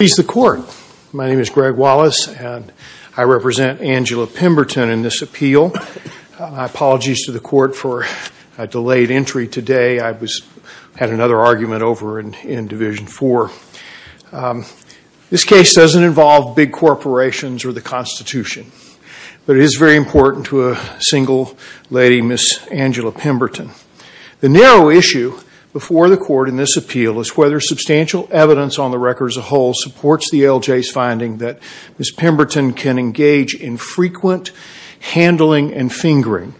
He's the court. My name is Greg Wallace and I represent Angela Pemberton in this appeal. My apologies to the court for a delayed entry today. I had another argument over in Division 4. This case doesn't involve big corporations or the Constitution, but it is very important to a single lady, Ms. Angela Pemberton. The narrow issue before the court in this appeal is whether substantial evidence on the record as a whole supports the ALJ's finding that Ms. Pemberton can engage in frequent handling and fingering.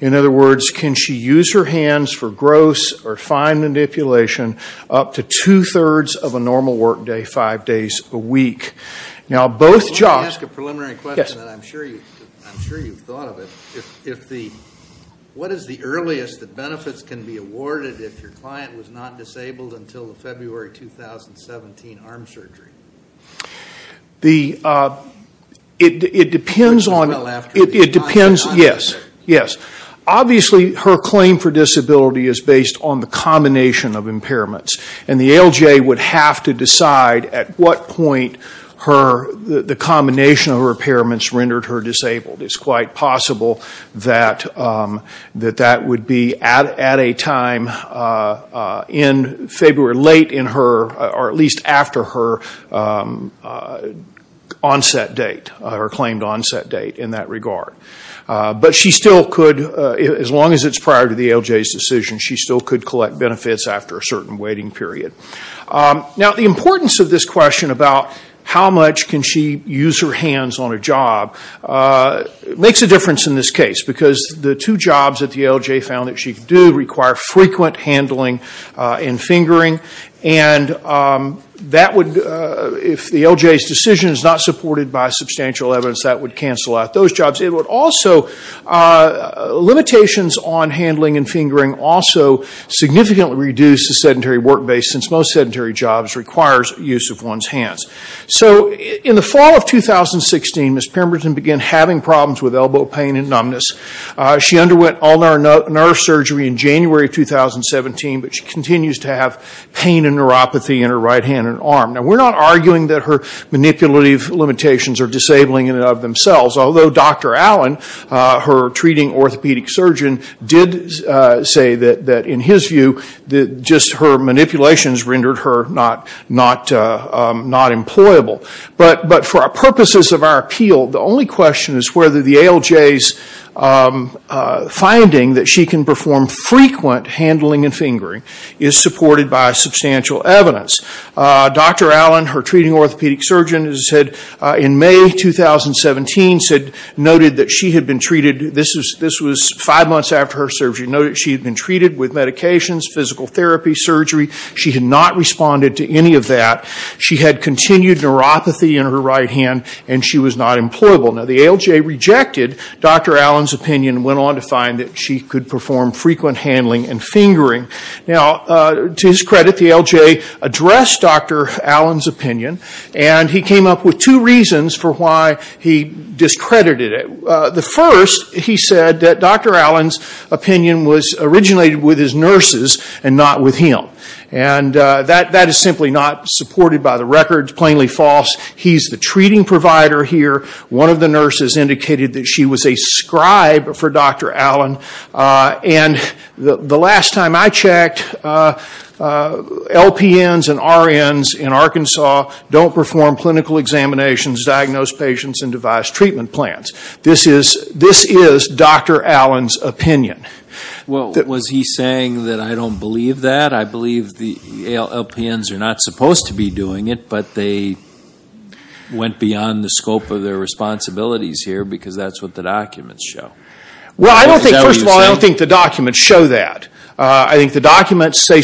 In other words, can she use her hands for gross or fine manipulation up to two-thirds of a normal work day, five days a week. Now both jobs... I want to ask a preliminary question. I'm sure you've thought of it. What is the earliest evidence that benefits can be awarded if your client was not disabled until the February 2017 arm surgery? It depends on... Well after the... It depends... On the... Yes, yes. Obviously her claim for disability is based on the combination of impairments and the ALJ would have to decide at what point the combination of her impairments rendered her disabled. It's quite possible that that would be at a time in February, late in her or at least after her onset date, her claimed onset date in that regard. But she still could, as long as it's prior to the ALJ's decision, she still could collect benefits after a certain waiting period. Now the importance of this question about how much can she use her hands on a job makes a difference in this case because the two jobs that the ALJ found that she could do require frequent handling and fingering. If the ALJ's decision is not supported by substantial evidence that would cancel out those jobs. It would also... Limitations on handling and most sedentary jobs requires use of one's hands. So in the fall of 2016, Ms. Pemberton began having problems with elbow pain and numbness. She underwent ulnar nerve surgery in January of 2017, but she continues to have pain and neuropathy in her right hand and arm. Now we're not arguing that her manipulative limitations are disabling in and of themselves, although Dr. Allen, her treating orthopedic surgeon, did say that in his view, just her manipulations rendered her not employable. But for purposes of our appeal, the only question is whether the ALJ's finding that she can perform frequent handling and fingering is supported by substantial evidence. Dr. Allen, her treating orthopedic surgeon, in May 2017 noted that she had been treated, this was five months after her surgery, noted that she had been treated with medications, physical therapy, surgery. She had not responded to any of that. She had continued neuropathy in her right hand and she was not employable. Now the ALJ rejected Dr. Allen's opinion and went on to find that she could perform frequent handling and fingering. Now to his credit, the ALJ addressed Dr. Allen's opinion and he came up with two reasons for why he discredited it. The first, he said that Dr. Allen's opinion was originated with his nurses and not with him. And that is simply not supported by the records, plainly false. He's the treating provider here. One of the nurses indicated that she was a scribe for Dr. Allen. And the last time I checked, LPNs and RNs in Arkansas don't perform clinical examinations, diagnose patients, and devise treatment plans. This is Dr. Allen's opinion. Well, was he saying that I don't believe that? I believe the LPNs are not supposed to be doing it, but they went beyond the scope of their responsibilities here because that's what the documents show. Well, I don't think, first of all, I don't think the documents show that. I think the documents show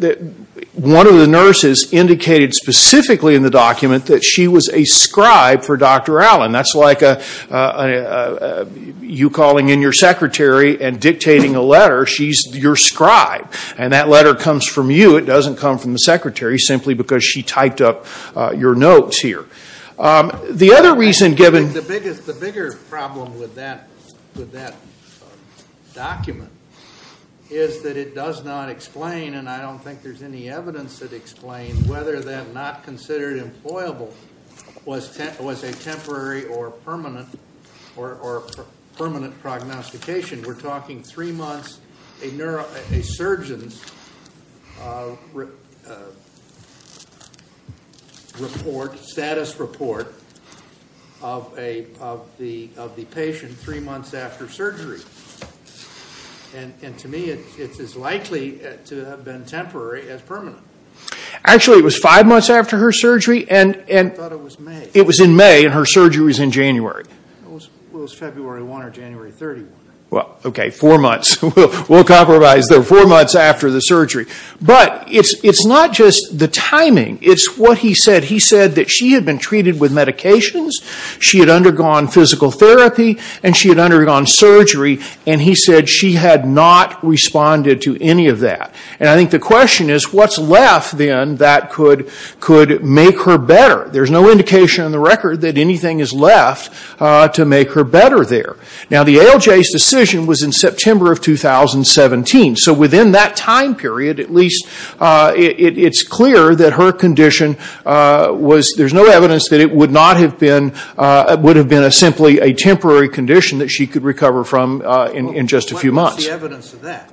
that one of the nurses indicated specifically in the document that she was a scribe for Dr. Allen. That's like you calling in your secretary and dictating a letter. She's your scribe. And that letter comes from you. It doesn't come from the secretary simply because she typed up your notes here. The other reason given... And I don't think there's any evidence that explains whether that not considered employable was a temporary or permanent prognostication. We're talking three months, a surgeon's report, status report of the patient three months after surgery. And to me, it's as likely as to have been temporary as permanent. Actually, it was five months after her surgery and... I thought it was May. It was in May and her surgery was in January. Well, it was February 1 or January 31. Well, OK, four months. We'll compromise there. Four months after the surgery. But it's not just the timing. It's what he said. He said that she had been treated with medications, she had undergone physical therapy, and she had undergone surgery, and he said she had not responded to any of that. And I think the question is, what's left then that could make her better? There's no indication on the record that anything is left to make her better there. Now, the ALJ's decision was in September of 2017. So within that time period, at least, it's clear that her condition was... There's no evidence that it would not have been... Would have been simply a temporary condition that she could recover from in just a few months. What's the evidence of that?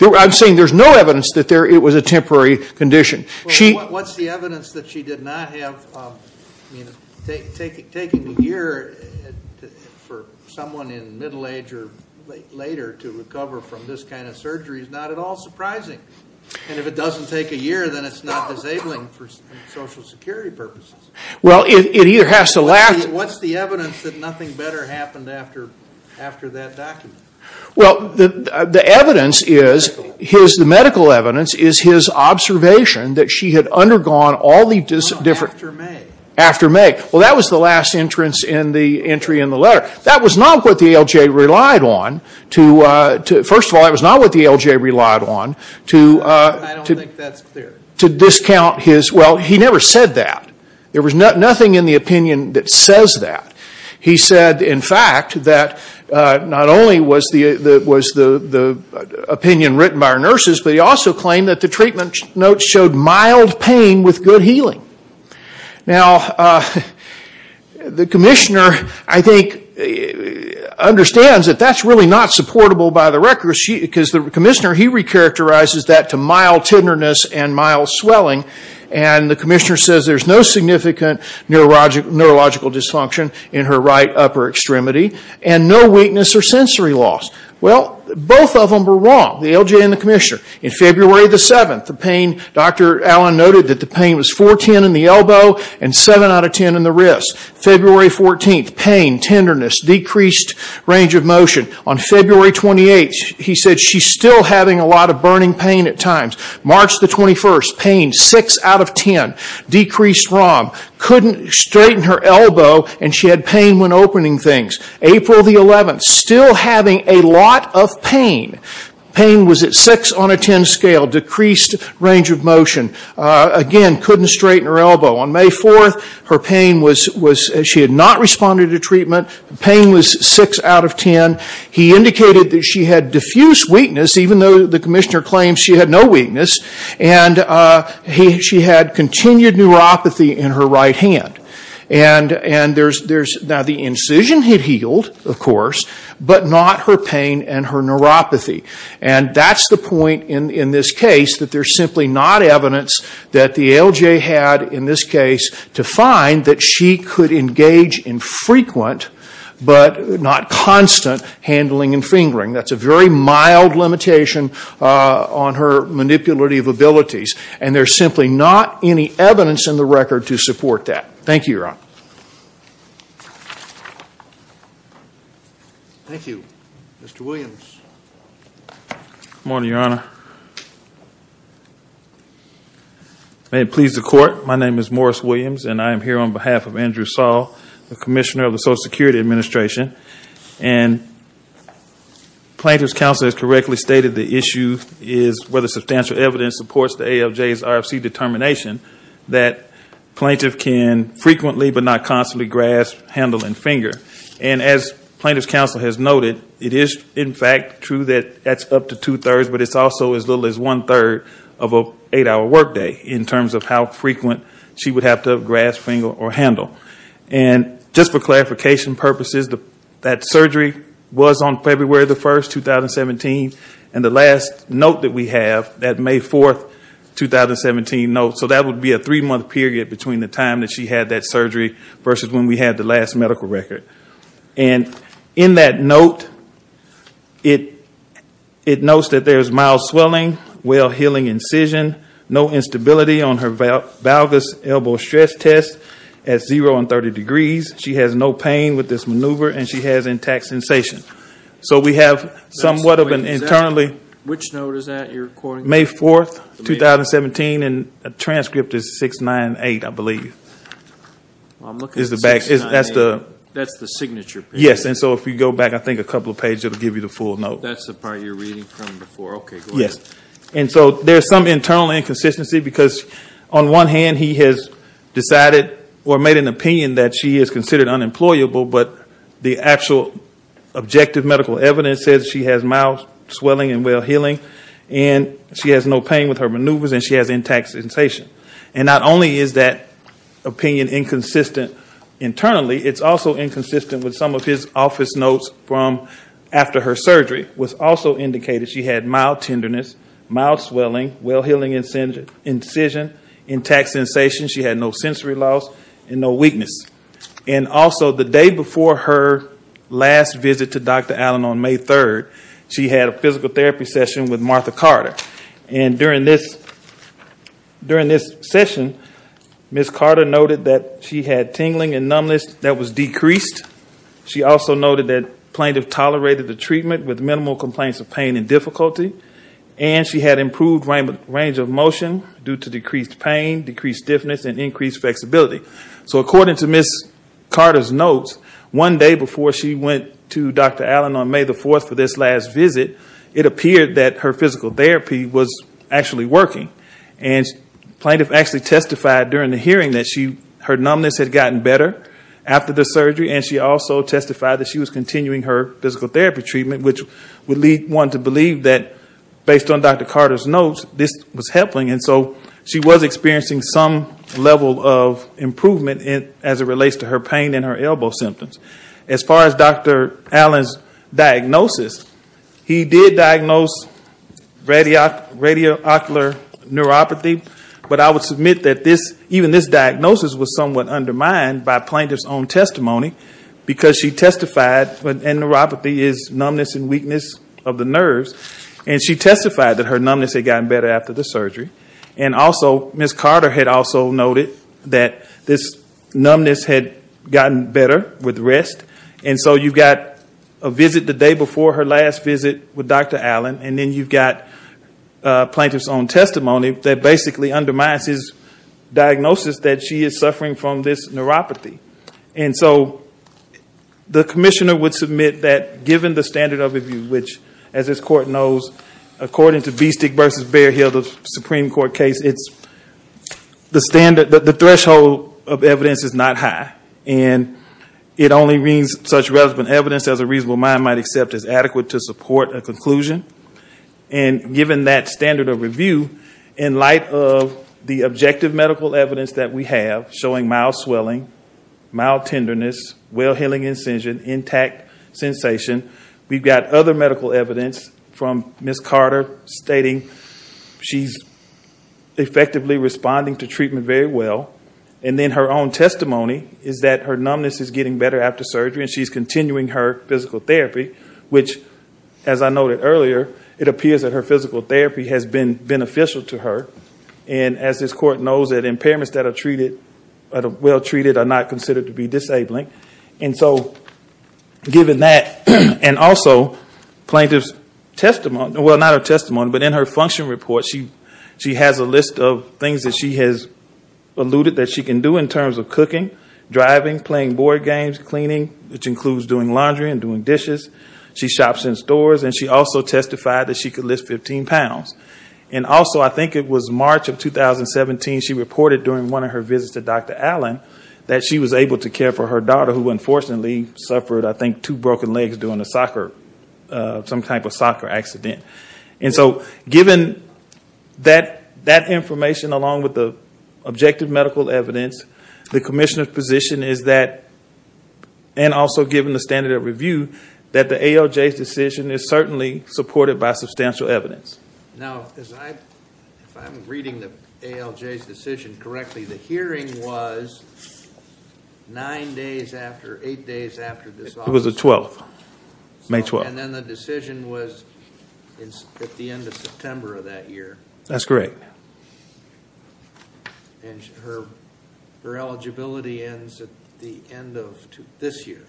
I'm saying there's no evidence that it was a temporary condition. What's the evidence that she did not have... I mean, taking a year for someone in middle age or later to recover from this kind of surgery is not at all surprising. And if it doesn't take a year, then it's not disabling for Social Security purposes. Well, it either has to lack... What's the evidence that nothing better happened after that document? Well, the evidence is, the medical evidence, is his observation that she had undergone all the different... No, after May. After May. Well, that was the last entrance in the entry in the letter. That was not what the ALJ relied on to... First of all, that was not what the ALJ relied on to... I don't think that's clear. To discount his... Well, he never said that. There was nothing in the opinion that says that. He said, in fact, that not only was the opinion written by our nurses, but he also claimed that the treatment notes showed mild pain with good healing. Now, the commissioner, I think, understands that that's really not supportable by the record because the commissioner, he recharacterizes that to mild tenderness and mild swelling. The commissioner says there's no significant neurological dysfunction in her right upper extremity and no weakness or sensory loss. Well, both of them are wrong, the ALJ and the commissioner. In February the 7th, the pain, Dr. Allen noted that the pain was 410 in the elbow and 7 out of 10 in the wrist. February 14th, pain, tenderness, decreased range of motion. On February 28th, he said she's still having a lot of burning pain at times. March the 21st, pain, 6 out of 10, decreased ROM. Couldn't straighten her elbow and she had pain when opening things. April the 11th, still having a lot of pain. Pain was at 6 on a 10 scale, decreased range of motion. Again, couldn't straighten her elbow. On May 4th, her pain was... She had not responded to treatment. Pain was 6 out of 10. He indicated that she had diffuse weakness, even though the commissioner claims she had no weakness. She had continued neuropathy in her right hand. The incision had healed, of course, but not her pain and her neuropathy. That's the point in this case, that there's simply not evidence that the ALJ had in this case to find that she could engage in frequent, but not constant, handling and fingering. That's a very mild limitation on her manipulative abilities. There's simply not any evidence in the record to support that. Thank you, Your Honor. Thank you. Mr. Williams. Good morning, Your Honor. May it please the court, my name is Morris Williams and I am here on behalf of Andrew Saul, the commissioner of the Social Security Administration. Plaintiff's counsel has correctly stated the issue is whether substantial evidence supports the ALJ's RFC determination that plaintiff can frequently, but not constantly, grasp, handle and finger. As plaintiff's counsel has noted, it is in fact true that that's up to two-thirds, but it's also as little as one-third of an eight-hour workday in terms of how frequent she would have tapped up, grasped, fingered or handled. Just for clarification purposes, that surgery was on February 1, 2017 and the last note that we have, that May 4, 2017 note, so that would be a three-month period between the time that she had that surgery versus when we had the last medical record. In that note, it notes that there is mild swelling, well-healing incision, no instability on her valgus elbow stress test at zero and 30 degrees. She has no pain with this maneuver and she has intact sensation. So we have somewhat of an internally May 4, 2017 and a transcript is 698, I believe, is the back. That's the signature page. Yes, and so if you go back I think a couple of pages, it will give you the full note. That's the part you're reading from before, okay, go ahead. And so there's some internal inconsistency because on one hand he has decided or made an opinion that she is considered unemployable but the actual objective medical evidence says she has mild swelling and well-healing and she has no pain with her maneuvers and she has intact sensation. And not only is that opinion inconsistent internally, it's also inconsistent with some of his office notes from after her surgery, which also indicated she had mild tenderness, mild swelling, well-healing incision, intact sensation. She had no sensory loss and no weakness. And also the day before her last visit to Dr. Allen on May 3, she had a physical therapy session with Martha Carter. And during this session, Ms. Carter noted that she had tingling and numbness that was she also noted that plaintiff tolerated the treatment with minimal complaints of pain and difficulty and she had improved range of motion due to decreased pain, decreased stiffness and increased flexibility. So according to Ms. Carter's notes, one day before she went to Dr. Allen on May 4 for this last visit, it appeared that her physical therapy was actually working and plaintiff actually testified during the hearing that her numbness had gotten better after the surgery and she also testified that she was continuing her physical therapy treatment, which would lead one to believe that based on Dr. Carter's notes, this was helping. And so she was experiencing some level of improvement as it relates to her pain and her elbow symptoms. As far as Dr. Allen's diagnosis, he did diagnose radioocular neuropathy, but I would say his diagnosis was somewhat undermined by plaintiff's own testimony because she testified that neuropathy is numbness and weakness of the nerves and she testified that her numbness had gotten better after the surgery. And also, Ms. Carter had also noted that this numbness had gotten better with rest and so you've got a visit the day before her last visit with Dr. Allen and then you've got plaintiff's own testimony that basically undermines his diagnosis that she is suffering from this neuropathy. And so the commissioner would submit that given the standard of review, which as this court knows, according to Bestic v. Bearhill, the Supreme Court case, the threshold of evidence is not high and it only means such relevant evidence as a reasonable mind might accept is adequate to support a conclusion. And given that standard of review, in light of the objective medical evidence that we have showing mild swelling, mild tenderness, well-healing incision, intact sensation, we've got other medical evidence from Ms. Carter stating she's effectively responding to treatment very well. And then her own testimony is that her numbness is getting better after surgery and she's noted earlier, it appears that her physical therapy has been beneficial to her. And as this court knows, that impairments that are treated, well treated, are not considered to be disabling. And so given that, and also plaintiff's testimony, well not her testimony, but in her function report, she has a list of things that she has alluded that she can do in terms of cooking, driving, playing board games, cleaning, which includes doing laundry and doing dishes. She shops in stores and she also testified that she could lift 15 pounds. And also I think it was March of 2017, she reported during one of her visits to Dr. Allen that she was able to care for her daughter who unfortunately suffered, I think, two broken legs during a soccer, some type of soccer accident. And so given that information along with the objective medical evidence, the commissioner's position is that, and also given the standard of review, that the ALJ's decision is certainly supported by substantial evidence. Now, as I, if I'm reading the ALJ's decision correctly, the hearing was nine days after, eight days after this office... It was the 12th, May 12th. And then the decision was at the end of September of that year. That's correct. And her eligibility ends at the end of this year.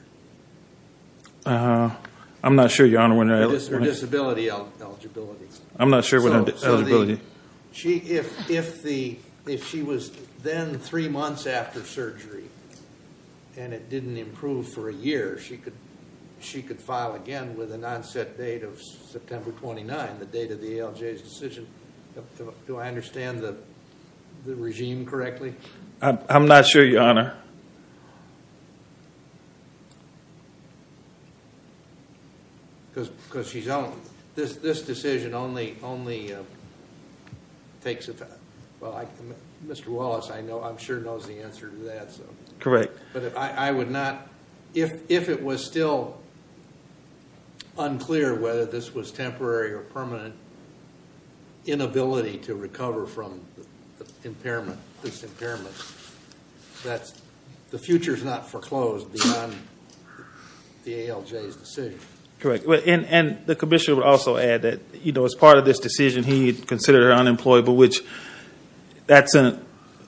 I'm not sure, Your Honor, when her eligibility... Her disability eligibility. I'm not sure when her eligibility... So if she was then three months after surgery and it didn't improve for a year, she could file again with an onset date of September 29, the date of the ALJ's decision. Do I understand the regime correctly? I'm not sure, Your Honor. Because she's on... This decision only takes effect, well, Mr. Wallace, I know, I'm sure, knows the answer to that, so. Correct. But if I would not, if it was still unclear whether this was temporary or permanent, inability to recover from impairment, this impairment, that's... The future's not foreclosed beyond the ALJ's decision. Correct. And the commissioner would also add that, you know, as part of this decision, he considered her unemployable, which that's an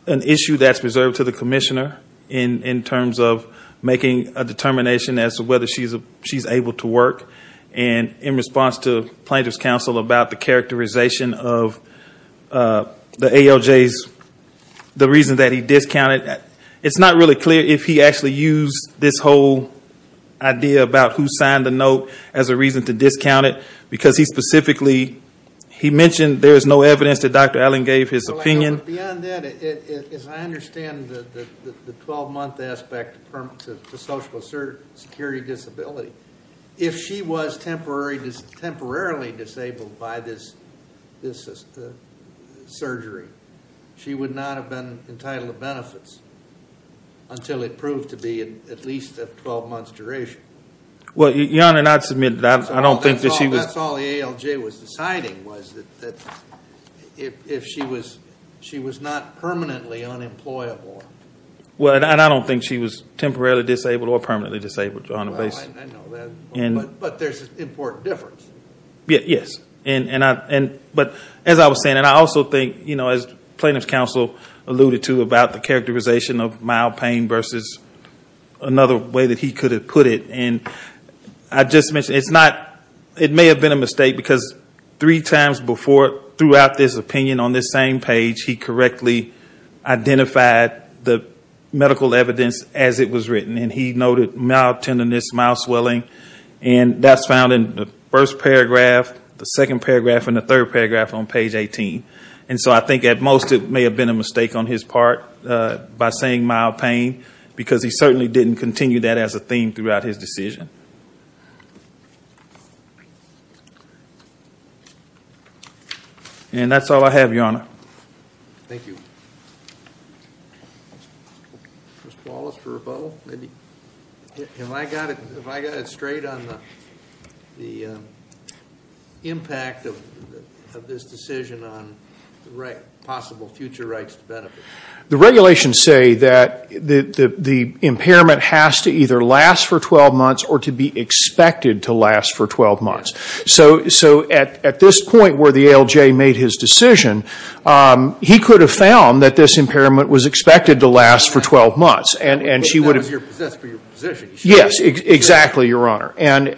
issue that's reserved to the commissioner in terms of making a determination as to whether she's able to work. And in response to plaintiff's counsel about the characterization of the ALJ's, the reason that he discounted, it's not really clear if he actually used this whole idea about who signed the note as a reason to discount it, because he specifically, he mentioned there is no evidence that Dr. Allen gave his opinion. Well, I know, but beyond that, as I understand the 12-month aspect of social security disability, if she was temporarily disabled by this surgery, she would not have been entitled to benefits until it proved to be at least a 12-month duration. Well, Your Honor, and I submit that I don't think that she was... That's all the ALJ was deciding was that if she was not permanently unemployable. Well, and I don't think she was temporarily disabled or permanently disabled, Your Honor, based... No, I know that, but there's an important difference. Yes, but as I was saying, and I also think, you know, as plaintiff's counsel alluded to about the characterization of mild pain versus another way that he could have put it, and I just mentioned, it's not, it may have been a mistake because three times before throughout this opinion on this same page, he correctly identified the medical evidence as it was mild swelling, and that's found in the first paragraph, the second paragraph, and the third paragraph on page 18. And so I think, at most, it may have been a mistake on his part by saying mild pain because he certainly didn't continue that as a theme throughout his decision. Thank you. Thank you. Mr. Wallace for a vote, maybe? Have I got it straight on the impact of this decision on possible future rights to benefit? The regulations say that the impairment has to either last for 12 months or to be expected to last for 12 months. So, at this point where the ALJ made his decision, he could have found that this impairment was expected to last for 12 months, and she would have... But that was your position. Yes, exactly, Your Honor. And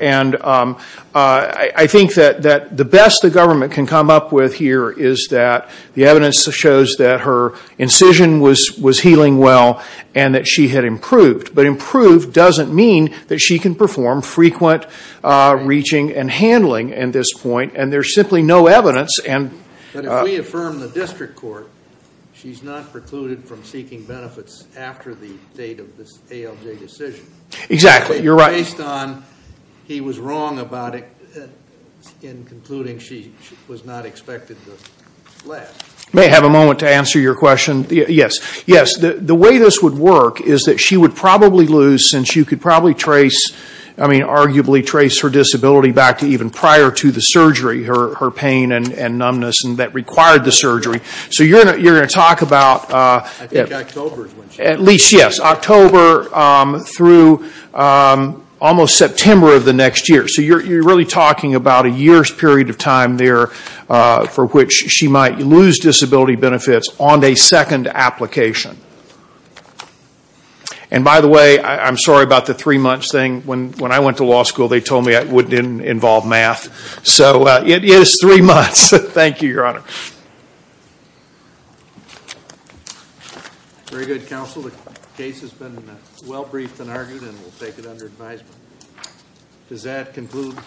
I think that the best the government can come up with here is that the evidence shows that her incision was healing well and that she had improved, but improved doesn't mean that she can perform frequent reaching and handling at this point, and there's simply no evidence. But if we affirm the district court, she's not precluded from seeking benefits after the date of this ALJ decision. Exactly, you're right. Based on he was wrong about it in concluding she was not expected to last. May I have a moment to answer your question? Yes. The way this would work is that she would probably lose, since you could probably trace her disability back to even prior to the surgery, her pain and numbness that required the surgery. So you're going to talk about... I think October is when she... At least, yes. October through almost September of the next year. So you're really talking about a year's period of time there for which she might lose disability benefits on a second application. And by the way, I'm sorry about the three months thing. When I went to law school, they told me it didn't involve math. So it is three months. Thank you, Your Honor. Very good, Counsel. The case has been well briefed and argued and we'll take it under advisement. Does that conclude?